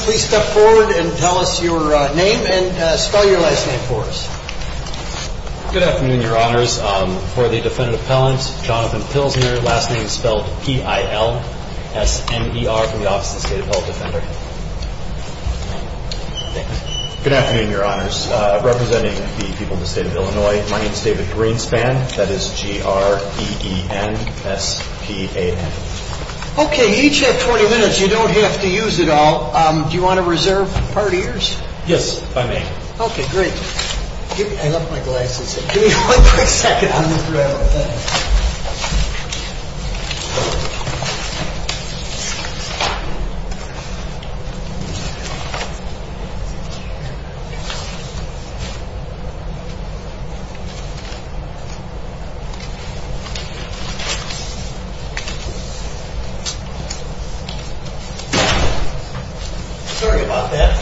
Please step forward and tell us your name and spell your last name for us. Good afternoon, Your Honors. For the Defendant Appellant Jonathan Pilsner last name spelled P-I-L-S-N-E-R from the Office of the State Appellant Defender. Good afternoon, Your Honors. Representing the people of the state of Illinois, my name is David Greenspan. That is G-R-E-E-N-S-P-A-N. Okay, you each have 20 minutes. You don't have to use it all. Do you want to reserve part of yours? Yes, if I may. Okay, great. I left my glasses. Give me one quick second of your time. Sorry about that.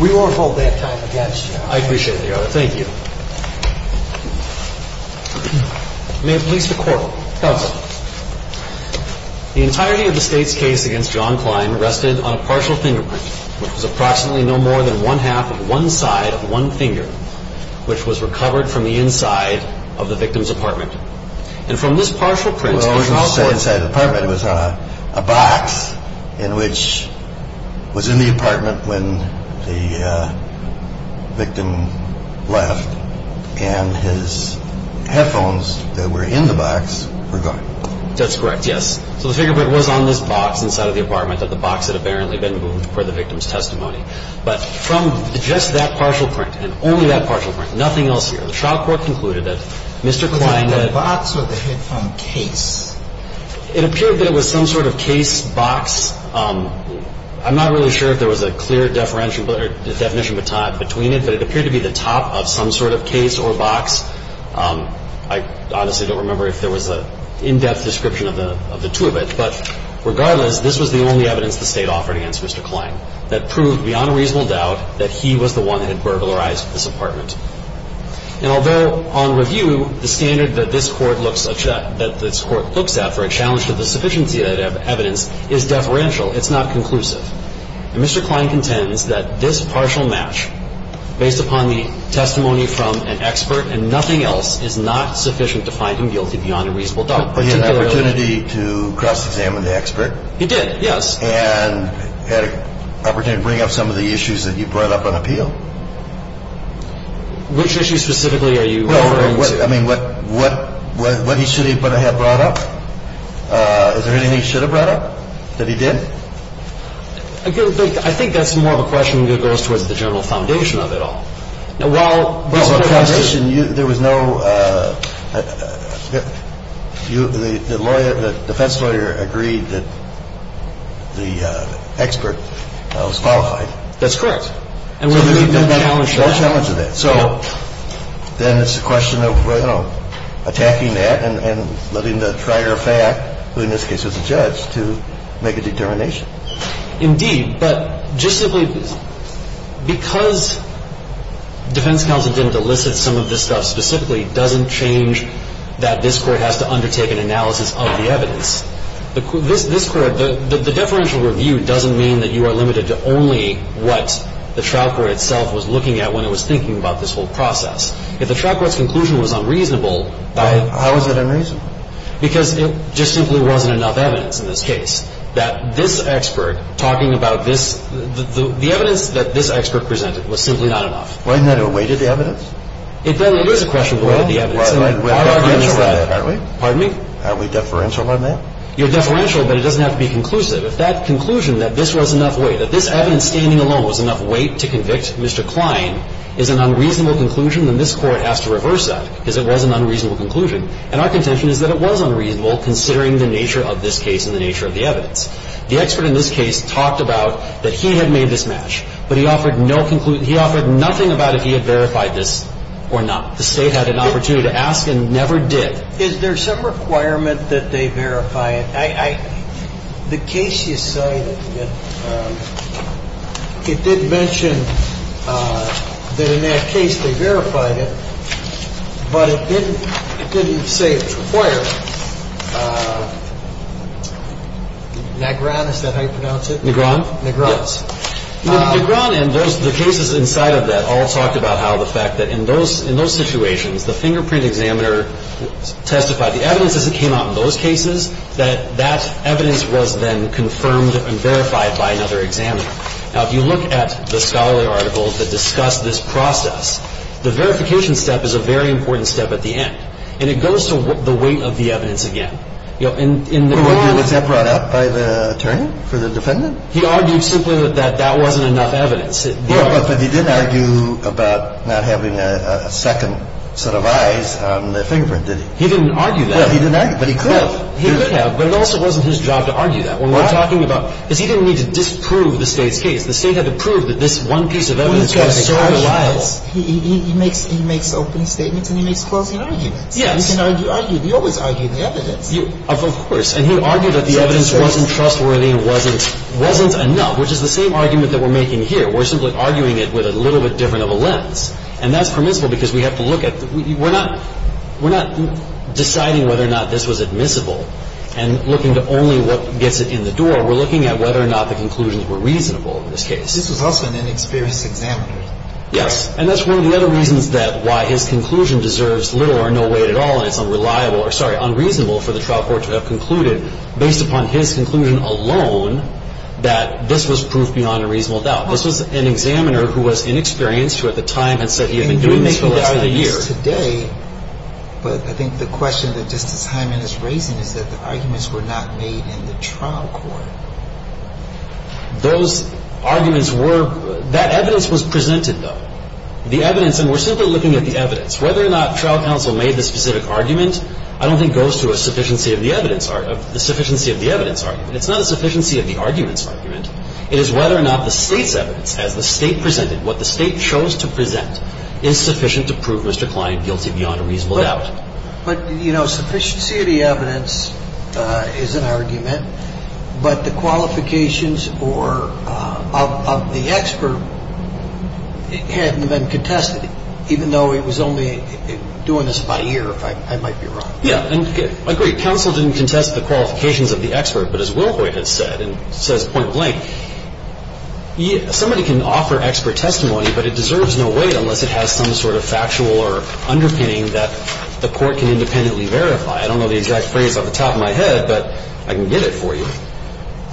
We won't hold that time against you. I appreciate it, Your Honor. May it please the Court, counsel. The entirety of the state's case against John Kline rested on a partial fingerprint, which was approximately no more than one half of one side of one finger, which was recovered from the inside of the victim's apartment. And from this partial print, the trial court... Well, I was going to say inside the apartment. It was a box in which was in the apartment when the victim left and his headphones that were in the box were gone. That's correct, yes. So the fingerprint was on this box inside of the apartment that the box had apparently been moved for the victim's testimony. But from just that partial print and only that partial print, nothing else here, the trial court concluded that Mr. Kline... Was it the box or the headphone case? It appeared that it was some sort of case box. I'm not really sure if there was a clear definition between it, but it appeared to be the top of some sort of case or box case. I honestly don't remember if there was an in-depth description of the two of it, but regardless, this was the only evidence the State offered against Mr. Kline that proved beyond a reasonable doubt that he was the one that had burglarized this apartment. And although on review, the standard that this Court looks at for a challenge to the sufficiency of evidence is deferential, it's not conclusive. And Mr. Kline contends that this partial match, based upon the testimony from an expert and nothing else, is not sufficient to find him guilty beyond a reasonable doubt. But he had an opportunity to cross-examine the expert? He did, yes. And had an opportunity to bring up some of the issues that you brought up on appeal? Which issues specifically are you referring to? I mean, what he should have brought up? Is there anything he should have brought up that he didn't? I think that's more of a question that goes towards the general foundation of it all. Now, while Mr. Kline's case was a case of a challenge to the sufficiency of evidence, the defense lawyer agreed that the expert was qualified. That's correct. So there was no challenge to that. No challenge to that. So then it's a question of, you know, attacking that and letting the trier of fact, who in this case was a judge, to make a determination. Indeed. But just simply because defense counsel didn't elicit some of this stuff specifically doesn't change that this Court has to undertake an analysis of the evidence. This Court, the deferential review doesn't mean that you are limited to only what the trial court itself was looking at when it was thinking about this whole process. If the trial court's conclusion was unreasonable, then how is it unreasonable? Because it just simply wasn't enough evidence in this case that this expert talking about this, the evidence that this expert presented was simply not enough. Wasn't that a weighted evidence? It is a question of the weight of the evidence. Why are we deferential on that? Pardon me? Are we deferential on that? You're deferential, but it doesn't have to be conclusive. If that conclusion that this was enough weight, that this evidence standing alone was enough weight to convict Mr. Kline is an unreasonable conclusion, then this Court has to reverse that because it was an unreasonable conclusion. And our contention is that it was unreasonable considering the nature of this case and the nature of the evidence. The expert in this case talked about that he had made this match, but he offered no conclusion. He offered nothing about if he had verified this or not. The State had an opportunity to ask and never did. Is there some requirement that they verify it? I – the case you cited, it did mention that in that case they verified it, but it didn't say it was required. Nagran, is that how you pronounce it? Nagran? Nagran. Yes. Nagran and those – the cases inside of that all talked about how the fact that in those – in those situations, the fingerprint examiner testified the evidence as it came out in those cases, that that evidence was then confirmed and verified by another examiner. Now, if you look at the scholarly articles that discuss this process, the verification step is a very important step at the end. And it goes to the weight of the evidence again. In the – But was that brought up by the attorney for the defendant? He argued simply that that wasn't enough evidence. But he didn't argue about not having a second set of eyes on the fingerprint, did he? He didn't argue that. Well, he didn't argue, but he could. He could have, but it also wasn't his job to argue that. When we're talking about – because he didn't need to disprove the State's case. The State had to prove that this one piece of evidence was so reliable. So he was – he makes – he makes open statements and he makes closing arguments. Yes. He can argue – he always argued the evidence. Of course. And he argued that the evidence wasn't trustworthy and wasn't – wasn't enough, which is the same argument that we're making here. We're simply arguing it with a little bit different of a lens. And that's permissible because we have to look at – we're not – we're not deciding whether or not this was admissible and looking to only what gets it in the door. We're looking at whether or not the conclusions were reasonable in this case. This was also an inexperienced examiner. Yes. And that's one of the other reasons that – why his conclusion deserves little or no weight at all and it's unreliable – or, sorry, unreasonable for the trial court to have concluded, based upon his conclusion alone, that this was proof beyond a reasonable doubt. This was an examiner who was inexperienced, who at the time had said he had been doing this for less than a year. And you would make those arguments today, but I think the question that Justice Hyman is raising is that the arguments were not made in the trial court. Those arguments were – that evidence was presented, though. The evidence – and we're simply looking at the evidence. Whether or not trial counsel made the specific argument, I don't think goes to a sufficiency of the evidence – the sufficiency of the evidence argument. It's not a sufficiency of the arguments argument. It is whether or not the State's evidence, as the State presented, what the State chose to present, is sufficient to prove Mr. Klein guilty beyond a reasonable doubt. But, you know, sufficiency of the evidence is an argument, but the qualifications or – of the expert hadn't been contested, even though he was only doing this about a year, if I might be wrong. Yeah. And I agree. Counsel didn't contest the qualifications of the expert, but as Wilhoyt had said, and says point blank, somebody can offer expert testimony, but it deserves no weight unless it has some sort of factual or underpinning that the court can independently verify. I don't know the exact phrase off the top of my head, but I can get it for you.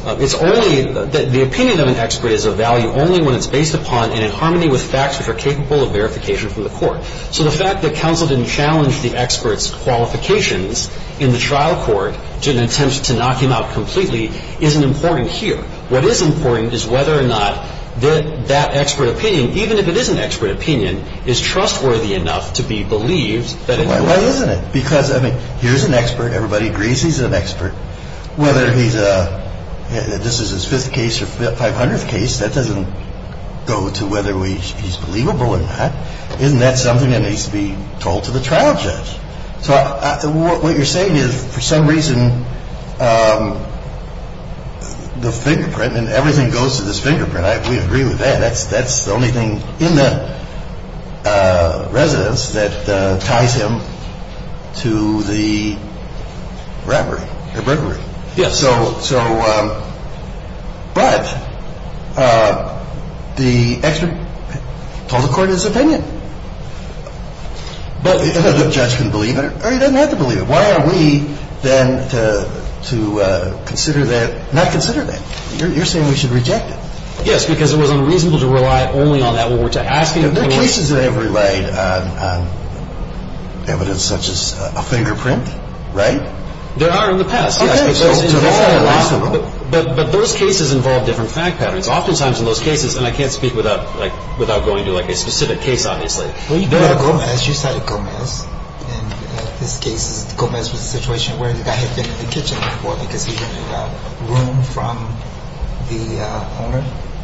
It's only – the opinion of an expert is of value only when it's based upon and in harmony with facts which are capable of verification from the court. So the fact that counsel didn't challenge the expert's qualifications in the trial court, didn't attempt to knock him out completely, isn't important here. What is important is whether or not that expert opinion, even if it is an expert opinion, is trustworthy enough to be believed that it – Why isn't it? Because, I mean, here's an expert. Everybody agrees he's an expert. Whether he's a – this is his fifth case or 500th case. That doesn't go to whether he's believable or not. Isn't that something that needs to be told to the trial judge? So what you're saying is, for some reason, the fingerprint and everything goes to this fingerprint. We agree with that. That's the only thing in the residence that ties him to the robbery. The murder. Yes. So – but the expert told the court his opinion. But the judge can believe it or he doesn't have to believe it. Why are we then to consider that – not consider that. You're saying we should reject it. Yes, because it was unreasonable to rely only on that when we're asking – There are cases that have relied on evidence such as a fingerprint, right? There are in the past, yes. But those cases involve different fact patterns. Oftentimes, in those cases – and I can't speak without going to a specific case, obviously. You cited Gomez. In this case, Gomez was in a situation where the guy had been in the kitchen in the morning because he didn't have room from the homeowner.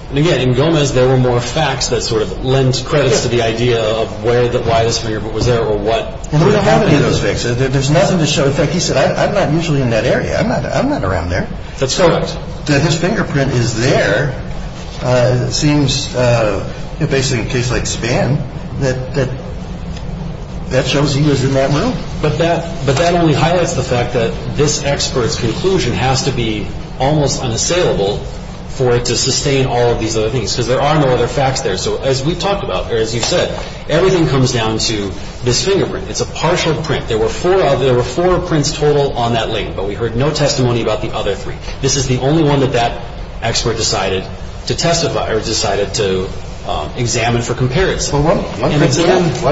And again, in Gomez, there were more facts that sort of lend credits to the idea of where the – why his fingerprint was there or what happened in those cases. There's nothing to show. In fact, he said, I'm not usually in that area. I'm not around there. That's correct. That his fingerprint is there seems basically in a case like Spann that that shows he was in that room. But that only highlights the fact that this expert's conclusion has to be almost unassailable for it to sustain all of these other things because there are no other facts there. So as we've talked about, or as you've said, everything comes down to this fingerprint. It's a partial print. There were four – there were four prints total on that link, but we heard no testimony about the other three. This is the only one that that expert decided to testify or decided to examine for comparison. Well, one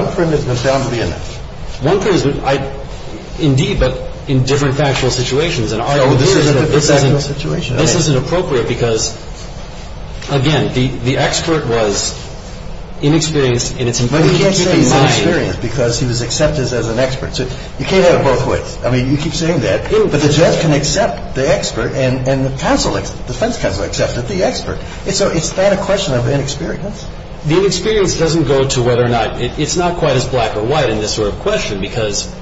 – one print is down to the index. One print is – indeed, but in different factual situations. And our view is that this isn't – this isn't appropriate because, again, the expert was inexperienced in its – But we can't say he's inexperienced because he was accepted as an expert. So you can't have it both ways. I mean, you keep saying that, but the judge can accept the expert and the counsel – defense counsel accepted the expert. And so is that a question of inexperience? The inexperience doesn't go to whether or not – it's not quite as black or white in this sort of question because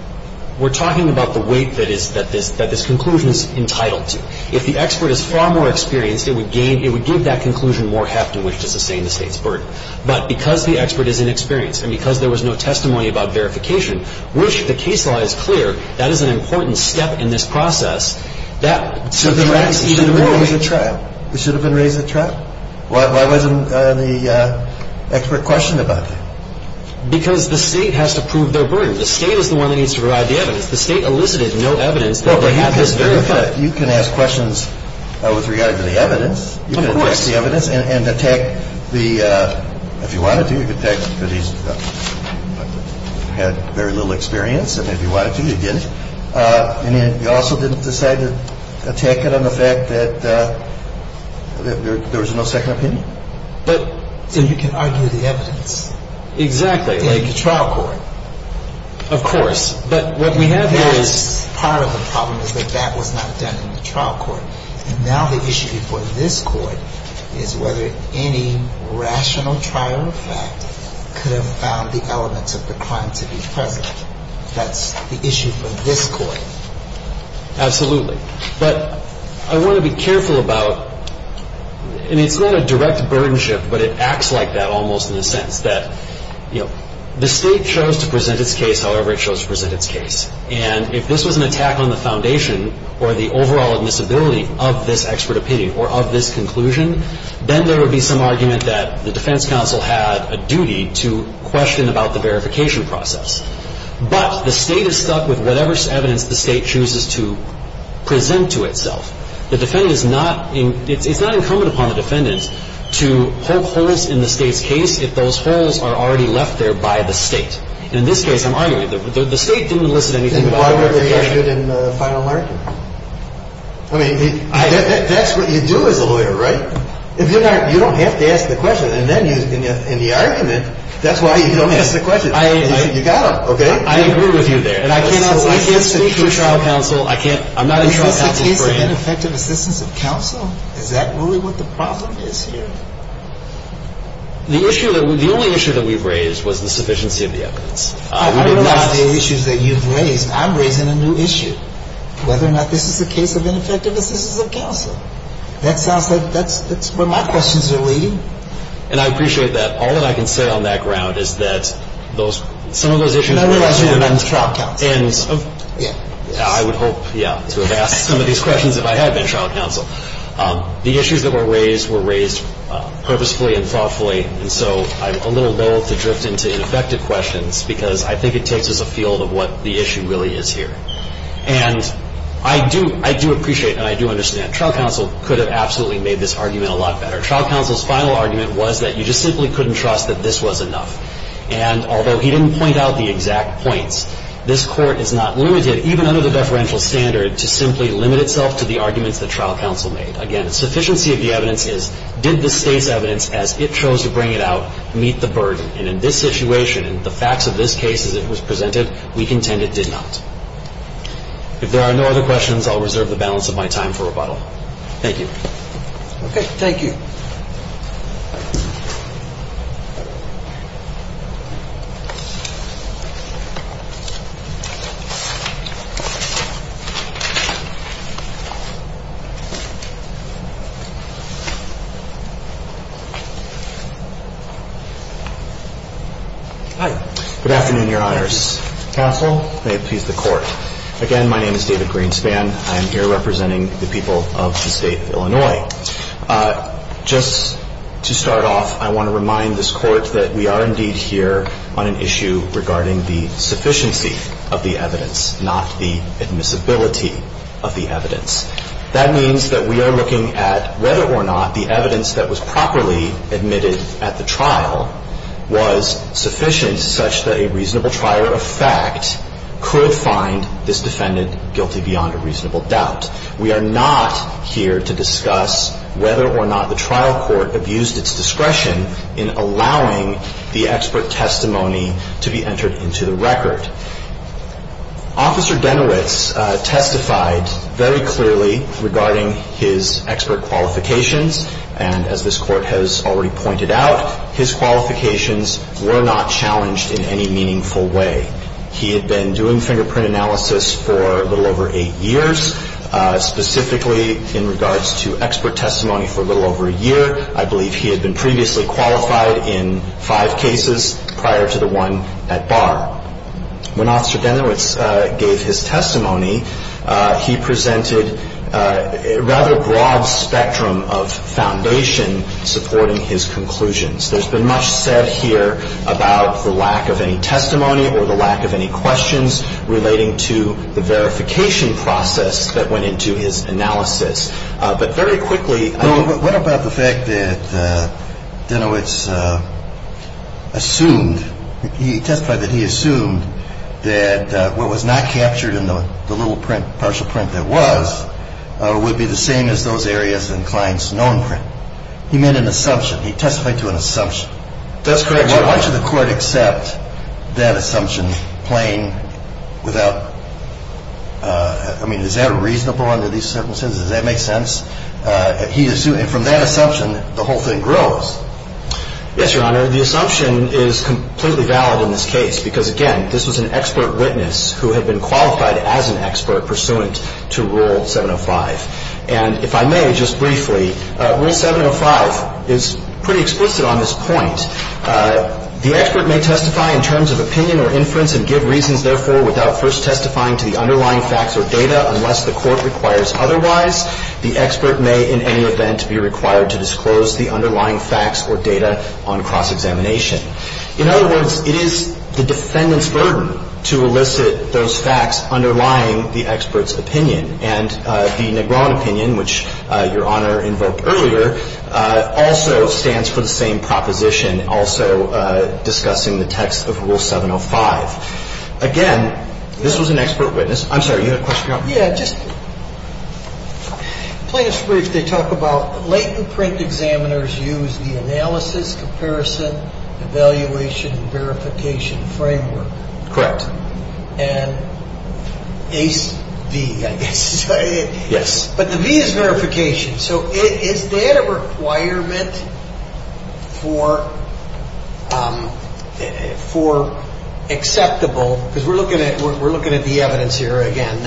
we're talking about the weight that is – that this – that this conclusion is entitled to. If the expert is far more experienced, it would gain – it would give that conclusion more heft in which to sustain the State's burden. But because the expert is inexperienced and because there was no testimony about verification, which the case law is clear, that is an important step in this process, that subtracts even more weight. It should have been raised at trial. It should have been raised at trial. Why wasn't the expert questioned about that? Because the State has to prove their burden. The State is the one that needs to provide the evidence. The State elicited no evidence that they had this verified. Well, but you can ask questions with regard to the evidence. You can attack the evidence and attack the – if you wanted to, you could attack – if you had very little experience, and if you wanted to, you didn't. And then you also didn't decide to attack it on the fact that there was no second opinion. But – And you can argue the evidence. Exactly. In the trial court. Of course. But what we have here is part of the problem is that that was not done in the trial court. And now the issue before this Court is whether any rational trial fact could have found the elements of the crime to be present. That's the issue for this Court. Absolutely. But I want to be careful about – I mean, it's not a direct burdenship, but it acts like that almost in the sense that, you know, the State chose to present its case however it chose to present its case. And if this was an attack on the foundation or the overall admissibility of this expert opinion or of this conclusion, then there would be some argument that the defense counsel had a duty to question about the verification process. But the State is stuck with whatever evidence the State chooses to present to itself. The defendant is not – it's not incumbent upon the defendant to poke holes in the State's case if those holes are already left there by the State. And in this case, I'm arguing that the State didn't enlist anything about the verification process. Then why weren't they interested in the final argument? I mean, that's what you do as a lawyer, right? If you're not – you don't have to ask the question. And then in the argument, that's why you don't ask the question. You got to, okay? I agree with you there. And I cannot – I can't speak for trial counsel. I can't – I'm not a trial counsel for him. Is this a case of ineffective assistance of counsel? Is that really what the problem is here? The issue that – the only issue that we've raised was the sufficiency of the evidence. We did not – I realize the issues that you've raised. I'm raising a new issue, whether or not this is a case of ineffective assistance of counsel. That sounds like – that's where my questions are leading. And I appreciate that. All that I can say on that ground is that those – some of those issues were raised – And I realize you're not a trial counsel. Yeah. I would hope, yeah, to have asked some of these questions if I had been trial counsel. The issues that were raised were raised purposefully and thoughtfully. And so I'm a little lulled to drift into ineffective questions because I think it takes us afield of what the issue really is here. And I do – I do appreciate and I do understand. Trial counsel could have absolutely made this argument a lot better. Trial counsel's final argument was that you just simply couldn't trust that this was enough. And although he didn't point out the exact points, this Court is not limited, even under the deferential standard, to simply limit itself to the arguments that trial counsel made. Again, sufficiency of the evidence is, did the State's evidence as it chose to bring it out meet the burden? And in this situation, in the facts of this case as it was presented, we contend it did not. If there are no other questions, I'll reserve the balance of my time for rebuttal. Thank you. Okay. Thank you. Thank you. Hi. Good afternoon, Your Honors. Counsel, may it please the Court. Again, my name is David Greenspan. I am here representing the people of the State of Illinois. Just to start off, I want to remind this Court that we are indeed here on an issue regarding the sufficiency of the evidence, not the admissibility of the evidence. That means that we are looking at whether or not the evidence that was properly admitted at the trial was sufficient such that a reasonable trier of fact could find this defendant guilty beyond a reasonable doubt. We are not here to discuss whether or not the trial court abused its discretion in allowing the expert testimony to be entered into the record. Officer Genowitz testified very clearly regarding his expert qualifications, and as this Court has already pointed out, his qualifications were not challenged in any meaningful way. He had been doing fingerprint analysis for a little over eight years. Specifically, in regards to expert testimony for a little over a year, I believe he had been previously qualified in five cases prior to the one at bar. When Officer Genowitz gave his testimony, he presented a rather broad spectrum of foundation supporting his conclusions. There's been much said here about the lack of any testimony or the lack of any questions relating to the verification process that went into his analysis. But very quickly... What about the fact that Genowitz assumed, he testified that he assumed that what was not captured in the little print, partial print that was, would be the same as those areas in Klein's known print. He made an assumption. He testified to an assumption. That's correct, Your Honor. Why should the Court accept that assumption plain without... I mean, is that reasonable under these circumstances? Does that make sense? And from that assumption, the whole thing grows. Yes, Your Honor. The assumption is completely valid in this case because, again, this was an expert witness who had been qualified as an expert pursuant to Rule 705. And if I may, just briefly, Rule 705 is pretty explicit on this point. The expert may testify in terms of opinion or inference and give reasons, therefore, without first testifying to the underlying facts or data unless the Court requires otherwise. The expert may, in any event, be required to disclose the underlying facts or data on cross-examination. In other words, it is the defendant's burden to elicit those facts underlying the expert's opinion. And the Negron opinion, which Your Honor invoked earlier, also stands for the same proposition, also discussing the text of Rule 705. Again, this was an expert witness. I'm sorry, you had a question, Your Honor? Yeah, just... In the witness brief, they talk about latent print examiners use the analysis, comparison, evaluation, verification framework. Correct. And ACE V, I guess. Yes. But the V is verification. So is that a requirement for acceptable... because we're looking at the evidence here again,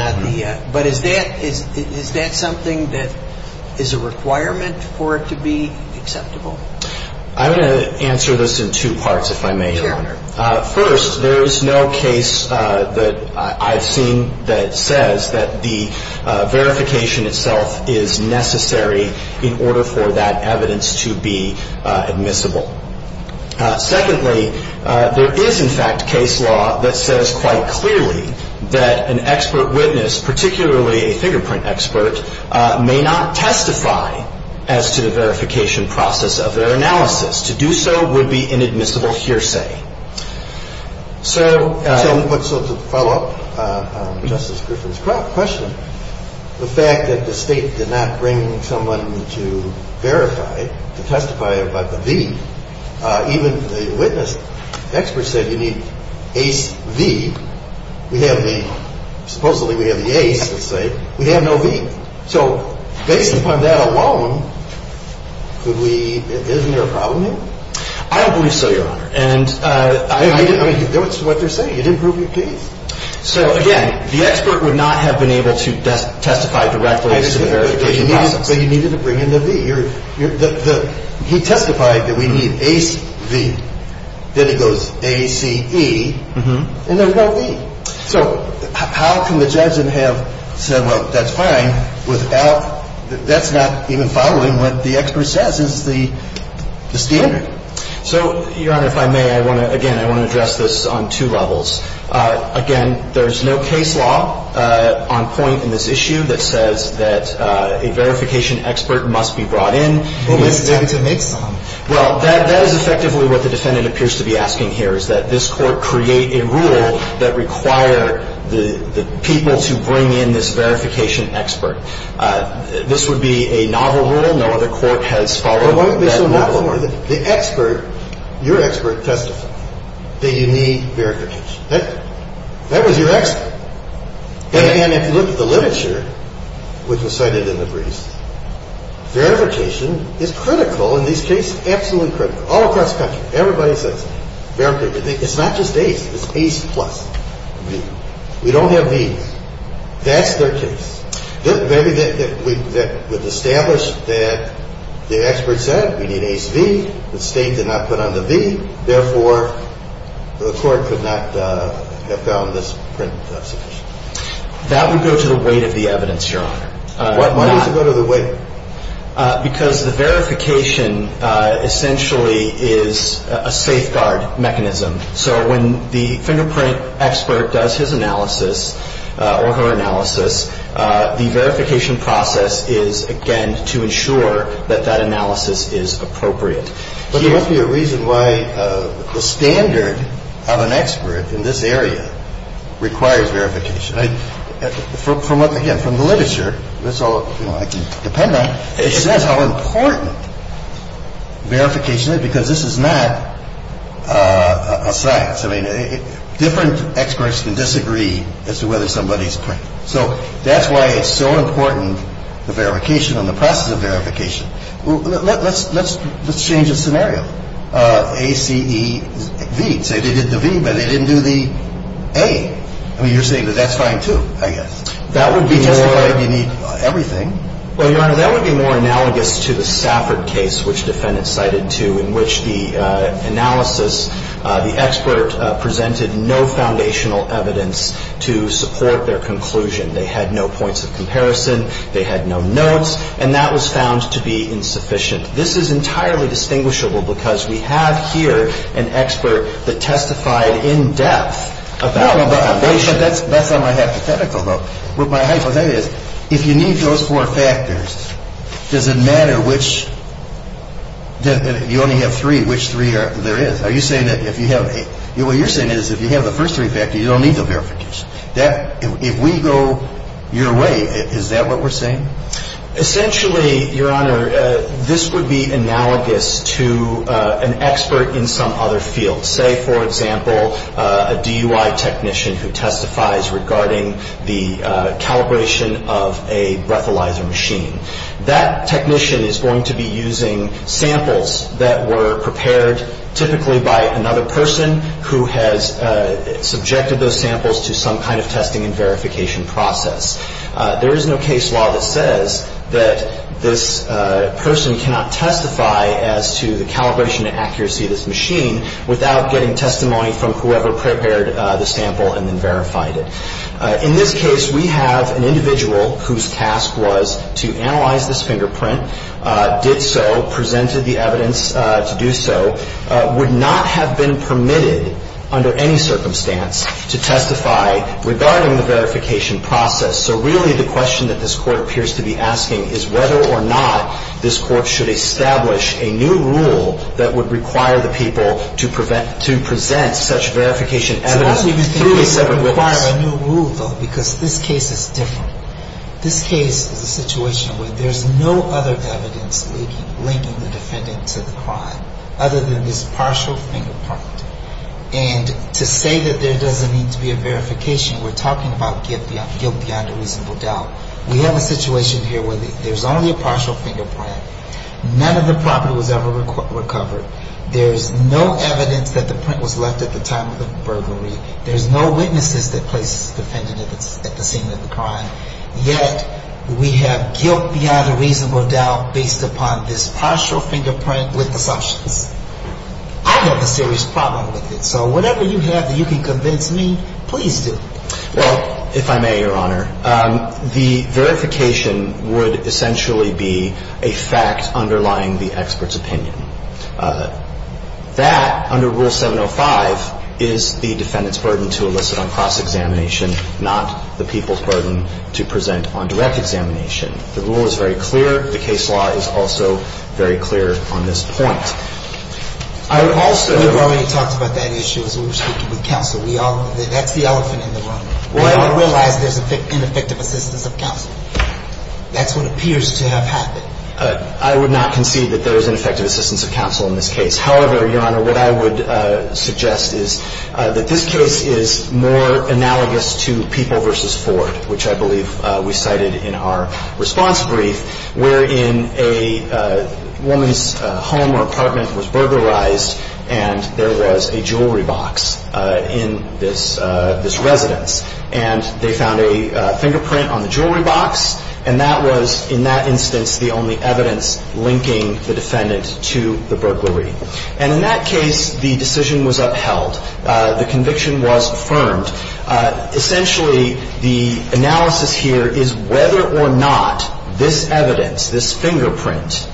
but is that something that is a requirement for it to be acceptable? I'm going to answer this in two parts, if I may, Your Honor. Sure. First, there is no case that I've seen that says that the verification itself is necessary in order for that evidence to be admissible. Secondly, there is, in fact, case law that says quite clearly that an expert witness, particularly a fingerprint expert, may not testify as to the verification process of their analysis. To do so would be inadmissible hearsay. So... So to follow up Justice Griffin's question, the fact that the State did not bring someone to verify, to testify about the V, even the witness experts said you need ACE V. We have the... Supposedly we have the ACE, let's say. We have no V. So based upon that alone, could we... Isn't there a problem here? I don't believe so, Your Honor. And I... I mean, it's what they're saying. You didn't prove your case. So, again, the expert would not have been able to testify directly as to the verification process. But you needed to bring in the V. You're... He testified that we need ACE V. Then it goes ACE. ACE V. And there's no V. So how can the judge have said, well, that's fine without... That's not even following what the expert says is the standard. So, Your Honor, if I may, I want to... Again, I want to address this on two levels. Again, there's no case law on point in this issue that says that a verification expert must be brought in. Well, we still need to make some. Well, that is effectively what the defendant appears to be asking here is that this court create a rule that require the people to bring in this verification expert. This would be a novel rule. No other court has followed that model. Well, why would it be so novel? The expert, your expert testified that you need verification. That was your expert. And, again, if you look at the literature, which was cited in the briefs, verification is critical in these cases, absolutely critical, all across the country. Everybody says verification. It's not just ACE. It's ACE plus. We don't have these. That's their case. Maybe that would establish that the expert said we need ACE-V. The state did not put on the V. Therefore, the court could not have found this print exception. That would go to the weight of the evidence, Your Honor. Why does it go to the weight? Because the verification essentially is a safeguard mechanism. So when the fingerprint expert does his analysis or her analysis, the verification process is, again, to ensure that that analysis is appropriate. But there must be a reason why the standard of an expert in this area requires verification. And, again, from the literature, that's all I can depend on. It says how important verification is because this is not a science. I mean, different experts can disagree as to whether somebody's print. So that's why it's so important, the verification and the process of verification. Let's change the scenario. ACE-V. Say they did the V, but they didn't do the A. I mean, you're saying that that's fine, too, I guess. That would be more. We testified you need everything. Well, Your Honor, that would be more analogous to the Stafford case, which defendants cited, too, in which the analysis, the expert presented no foundational evidence to support their conclusion. They had no points of comparison. They had no notes. And that was found to be insufficient. This is entirely distinguishable because we have here an expert that testified in depth about the foundation. No, but that's not my hypothetical, though. What my hypothetical is, if you need those four factors, does it matter which – you only have three. Which three there is? Are you saying that if you have – what you're saying is if you have the first three factors, you don't need the verification. If we go your way, is that what we're saying? Essentially, Your Honor, this would be analogous to an expert in some other field. Say, for example, a DUI technician who testifies regarding the calibration of a breathalyzer machine. That technician is going to be using samples that were prepared typically by another person who has subjected those samples to some kind of testing and verification process. There is no case law that says that this person cannot testify as to the calibration and accuracy of this machine without getting testimony from whoever prepared the sample and then verified it. In this case, we have an individual whose task was to analyze this fingerprint, did so, presented the evidence to do so, would not have been permitted under any circumstance to testify regarding the verification process. So really the question that this Court appears to be asking is whether or not this Court should establish a new rule that would require the people to present such verification evidence through a separate witness. I was even thinking it would require a new rule, though, because this case is different. This case is a situation where there's no other evidence linking the defendant to the crime other than this partial fingerprint. And to say that there doesn't need to be a verification, we're talking about guilt beyond a reasonable doubt. We have a situation here where there's only a partial fingerprint. None of the property was ever recovered. There's no evidence that the print was left at the time of the burglary. There's no witnesses that place the defendant at the scene of the crime. Yet we have guilt beyond a reasonable doubt based upon this partial fingerprint with assumptions. I have a serious problem with it. So whatever you have that you can convince me, please do. Well, if I may, Your Honor, the verification would essentially be a fact underlying the expert's opinion. That, under Rule 705, is the defendant's burden to elicit on cross-examination, not the people's burden to present on direct examination. The rule is very clear. The case law is also very clear on this point. I would also – We've already talked about that issue as we were speaking with counsel. That's the elephant in the room. We realize there's ineffective assistance of counsel. That's what appears to have happened. I would not concede that there is ineffective assistance of counsel in this case. However, Your Honor, what I would suggest is that this case is more analogous to People v. Ford, which I believe we cited in our response brief, where in a woman's home or apartment was burglarized and there was a jewelry box in this residence. And they found a fingerprint on the jewelry box, and that was, in that instance, the only evidence linking the defendant to the burglary. And in that case, the decision was upheld. The conviction was affirmed. Essentially, the analysis here is whether or not this evidence, this fingerprint,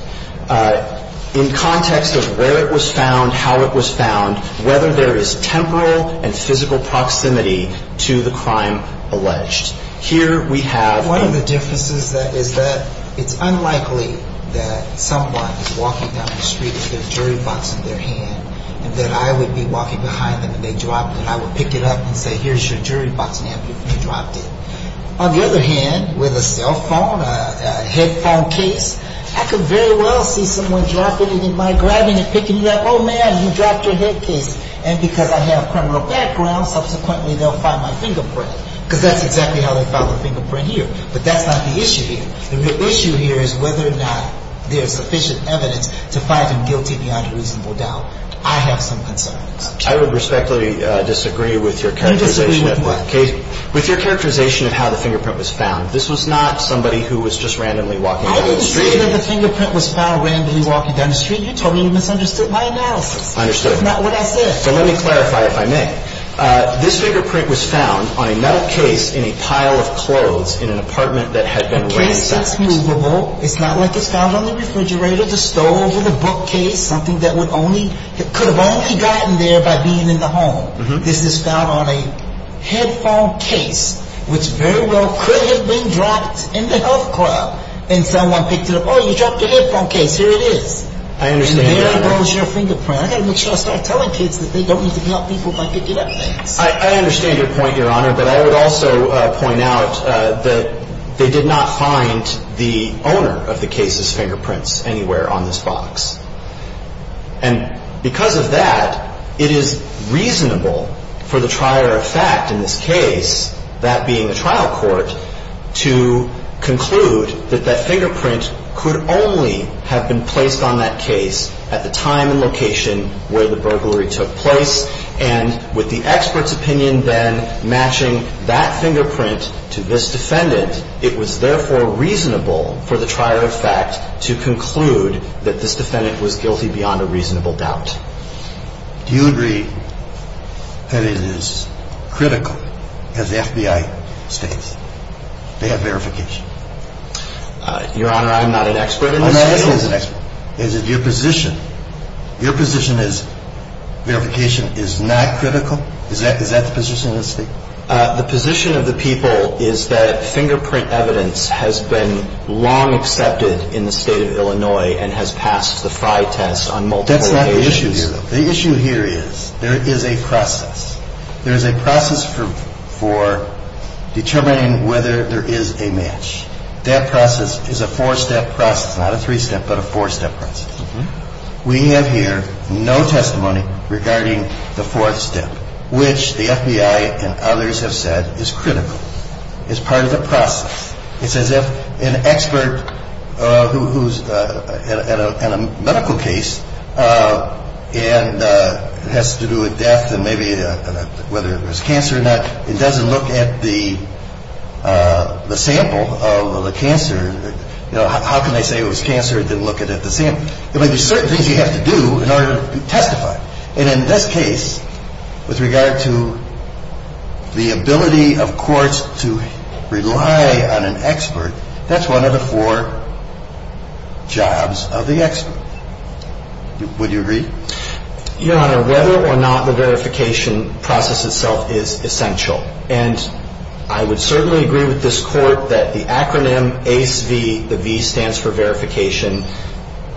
in context of where it was found, how it was found, whether there is temporal and physical proximity to the crime alleged. Here we have – One of the differences is that it's unlikely that someone is walking down the street with their jewelry box in their hand and that I would be walking behind them and they dropped it. I would pick it up and say, here's your jewelry box in hand. You dropped it. On the other hand, with a cell phone, a headphone case, I could very well see someone dropping it in my grabbing and picking it up. Oh, man, you dropped your head case. And because I have criminal background, subsequently they'll find my fingerprint. Because that's exactly how they found the fingerprint here. But that's not the issue here. The issue here is whether or not there is sufficient evidence to find him guilty beyond a reasonable doubt. I have some concerns. I would respectfully disagree with your characterization. You disagree with what? With your characterization of how the fingerprint was found. This was not somebody who was just randomly walking down the street. I didn't say that the fingerprint was found randomly walking down the street. You told me you misunderstood my analysis. I understood. That's not what I said. So let me clarify, if I may. This fingerprint was found on a metal case in a pile of clothes in an apartment that had been ransacked. The case is movable. It's not like it's found on the refrigerator, the stove, or the bookcase, something that could have only gotten there by being in the home. This is found on a headphone case, which very well could have been dropped in the health club. And someone picked it up. Oh, you dropped your headphone case. Here it is. I understand your point. And there goes your fingerprint. I've got to make sure I start telling kids that they don't need to help people by picking up things. I understand your point, Your Honor. But I would also point out that they did not find the owner of the case's fingerprints anywhere on this box. And because of that, it is reasonable for the trier of fact in this case, that being a trial court, to conclude that that fingerprint could only have been placed on that case at the time and location where the burglary took place. And with the expert's opinion then matching that fingerprint to this defendant, it was therefore reasonable for the trier of fact to conclude that this defendant was guilty beyond a reasonable doubt. Do you agree that it is critical, as the FBI states, to have verification? Your Honor, I'm not an expert in this case. Your position is verification is not critical? Is that the position of the state? The position of the people is that fingerprint evidence has been long accepted in the state of Illinois and has passed the Frye test on multiple occasions. That's not the issue here, though. The issue here is there is a process. There is a process for determining whether there is a match. That process is a four-step process, not a three-step, but a four-step process. We have here no testimony regarding the fourth step, which the FBI and others have said is critical. It's part of the process. It's as if an expert who's in a medical case and has to do with death and maybe whether it was cancer or not, it doesn't look at the sample of the cancer. How can they say it was cancer and then look at the sample? There might be certain things you have to do in order to testify. And in this case, with regard to the ability of courts to rely on an expert, that's one of the four jobs of the expert. Would you agree? Your Honor, whether or not the verification process itself is essential, and I would certainly agree with this Court that the acronym ACEV, the V stands for verification,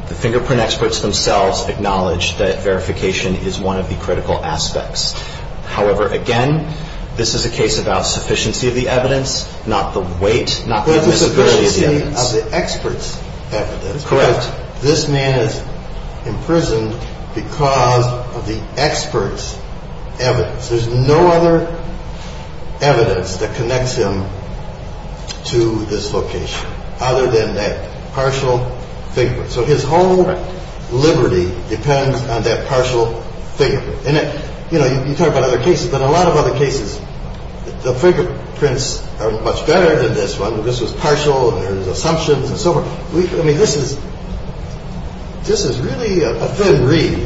the fingerprint experts themselves acknowledge that verification is one of the critical aspects. However, again, this is a case about sufficiency of the evidence, not the weight, not the visibility of the evidence. Correct. This man is imprisoned because of the expert's evidence. There's no other evidence that connects him to this location other than that partial fingerprint. So his whole liberty depends on that partial fingerprint. And, you know, you talk about other cases, but a lot of other cases, the fingerprints are much better than this one. This was partial, there was assumptions and so forth. I mean, this is really a thin reed,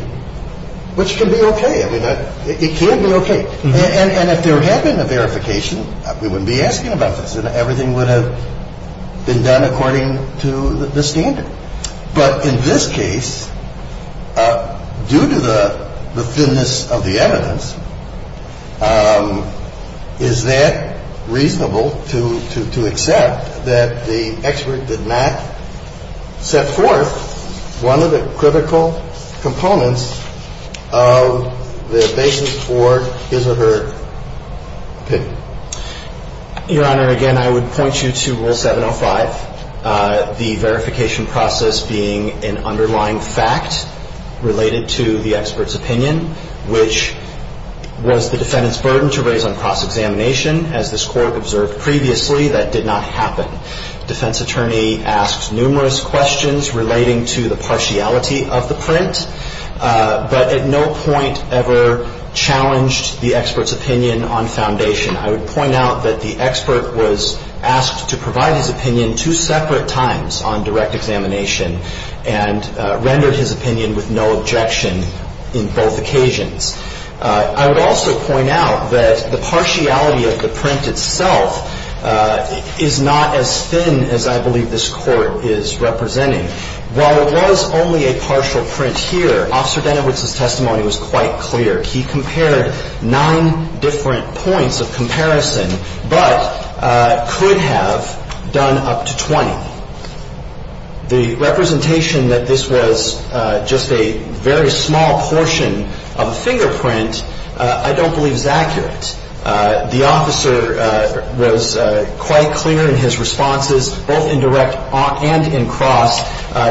which can be okay. I mean, it can be okay. And if there had been a verification, we wouldn't be asking about this, and everything would have been done according to the standard. But in this case, due to the thinness of the evidence, is that reasonable to accept that the expert did not set forth one of the critical components of the basis for his or her opinion? Your Honor, again, I would point you to Rule 705, the verification process being an underlying fact related to the expert's opinion, which was the defendant's burden to raise on cross-examination. As this Court observed previously, that did not happen. Defense attorney asked numerous questions relating to the partiality of the print, but at no point ever challenged the expert's opinion on foundation. I would point out that the expert was asked to provide his opinion two separate times on direct examination and rendered his opinion with no objection in both occasions. I would also point out that the partiality of the print itself is not as thin as I believe this Court is representing. While it was only a partial print here, Officer Denowitz's testimony was quite clear. He compared nine different points of comparison, but could have done up to 20. The representation that this was just a very small portion of the fingerprint I don't believe is accurate. The officer was quite clear in his responses, both in direct and in cross,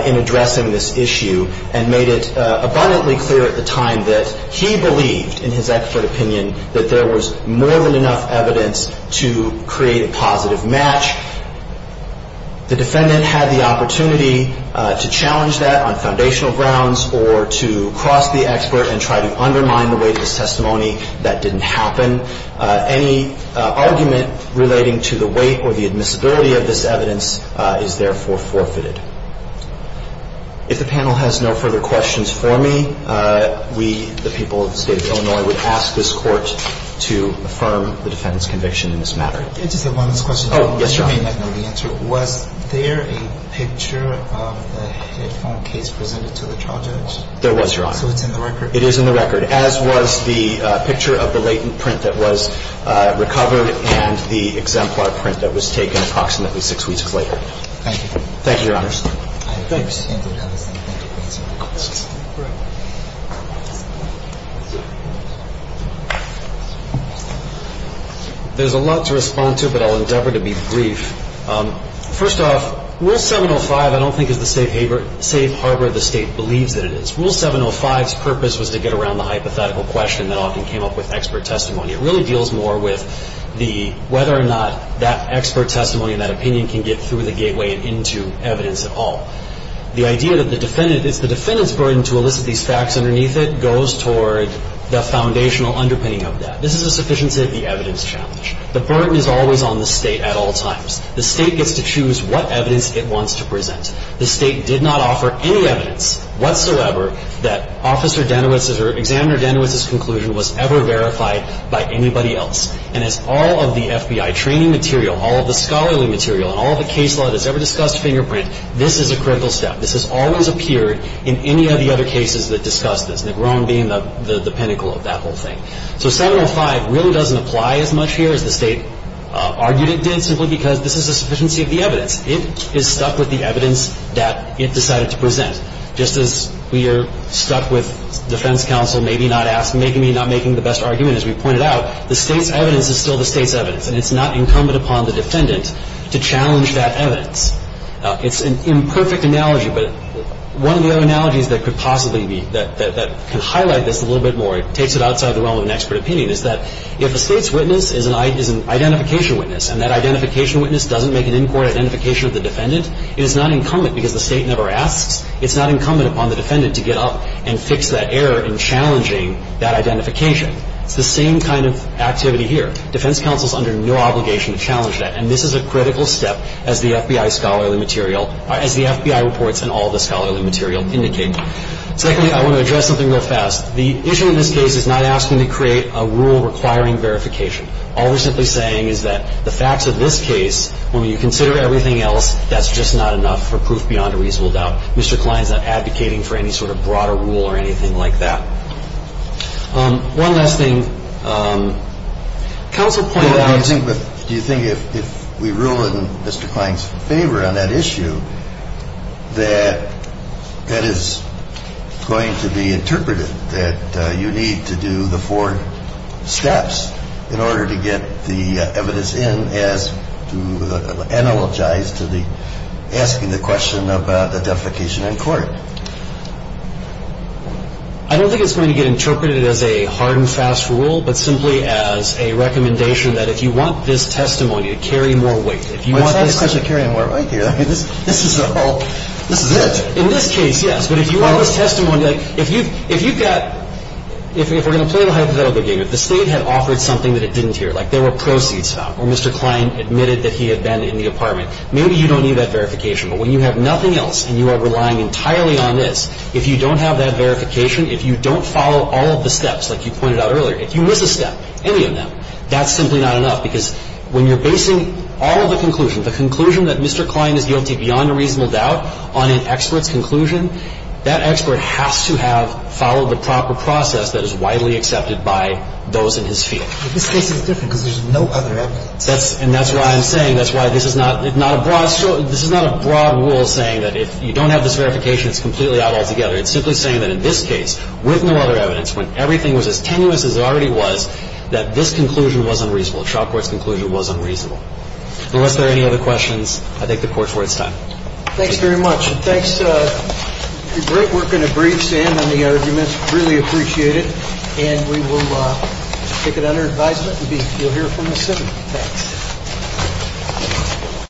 in addressing this issue and made it abundantly clear at the time that he believed in his expert opinion that there was more than enough evidence to create a positive match. The defendant had the opportunity to challenge that on foundational grounds or to cross the expert and try to undermine the weight of his testimony. That didn't happen. Any argument relating to the weight or the admissibility of this evidence is therefore forfeited. If the panel has no further questions for me, we, the people of the State of Illinois, would ask this Court to affirm the defendant's conviction in this matter. Just one last question. Oh, yes, Your Honor. Was there a picture of the headphone case presented to the trial judge? There was, Your Honor. So it's in the record? It is in the record, as was the picture of the latent print that was recovered and the exemplar print that was taken approximately six weeks later. Thank you. Thank you, Your Honor. Thank you, Mr. Anderson. Thanks. There's a lot to respond to, but I'll endeavor to be brief. First off, Rule 705 I don't think is the safe harbor the State believes that it is. Rule 705's purpose was to get around the hypothetical question that often came up with expert testimony. It really deals more with whether or not that expert testimony and that opinion can get through the gateway and into evidence at all. The idea that it's the defendant's burden to elicit these facts underneath it goes toward the foundational underpinning of that. This is a sufficiency of the evidence challenge. The burden is always on the State at all times. The State gets to choose what evidence it wants to present. The State did not offer any evidence whatsoever that Officer Danowitz's or Examiner Danowitz's conclusion was ever verified by anybody else. And as all of the FBI training material, all of the scholarly material, and all of the case law that's ever discussed fingerprint, this is a critical step. This has always appeared in any of the other cases that discuss this, Negron being the pinnacle of that whole thing. So 705 really doesn't apply as much here as the State argued it did simply because this is a sufficiency of the evidence. It is stuck with the evidence that it decided to present. Just as we are stuck with defense counsel maybe not asking, maybe not making the best argument as we pointed out, the State's evidence is still the State's evidence, and it's not incumbent upon the defendant to challenge that evidence. It's an imperfect analogy, but one of the other analogies that could possibly be that can highlight this a little bit more, it takes it outside the realm of an expert opinion, is that if the State's witness is an identification witness and that identification witness doesn't make an in-court identification of the defendant, it is not incumbent because the State never asks, it's not incumbent upon the defendant to get up and fix that error in challenging that identification. It's the same kind of activity here. Defense counsel is under no obligation to challenge that, and this is a critical step as the FBI scholarly material, as the FBI reports and all the scholarly material indicate. Secondly, I want to address something real fast. The issue in this case is not asking to create a rule requiring verification. All we're simply saying is that the facts of this case, when you consider everything else, that's just not enough for proof beyond a reasonable doubt. Mr. Klein is not advocating for any sort of broader rule or anything like that. One last thing. Counsel pointed out. Do you think if we rule in Mr. Klein's favor on that issue, that that is going to be interpreted, that you need to do the four steps in order to get the evidence in as to analogize to the asking the question about the defecation in court? I don't think it's going to get interpreted as a hard and fast rule, but simply as a recommendation that if you want this testimony to carry more weight. If you want this testimony to carry more weight. This is all. This is it. In this case, yes. But if you want this testimony. If you've got. If we're going to play the hypothetical game, if the State had offered something that it didn't hear, like there were proceeds found, or Mr. Klein admitted that he had been in the apartment, maybe you don't need that verification. But when you have nothing else and you are relying entirely on this, if you don't have that verification, if you don't follow all of the steps like you pointed out earlier, if you miss a step, any of them, that's simply not enough. Because when you're basing all of the conclusions, the conclusion that Mr. Klein is guilty beyond a reasonable doubt on an expert's conclusion, that expert has to have followed the proper process that is widely accepted by those in his field. But this case is different because there's no other evidence. And that's why I'm saying. And that's why this is not a broad rule saying that if you don't have this verification, it's completely out altogether. It's simply saying that in this case, with no other evidence, when everything was as tenuous as it already was, that this conclusion was unreasonable. The shop board's conclusion was unreasonable. Unless there are any other questions, I'll take the Court's word at this time. Thanks very much. And thanks for your great work in a brief stand on the arguments. Really appreciate it. And we will take it under advisement. And you'll hear from us soon. Thanks. Thank you.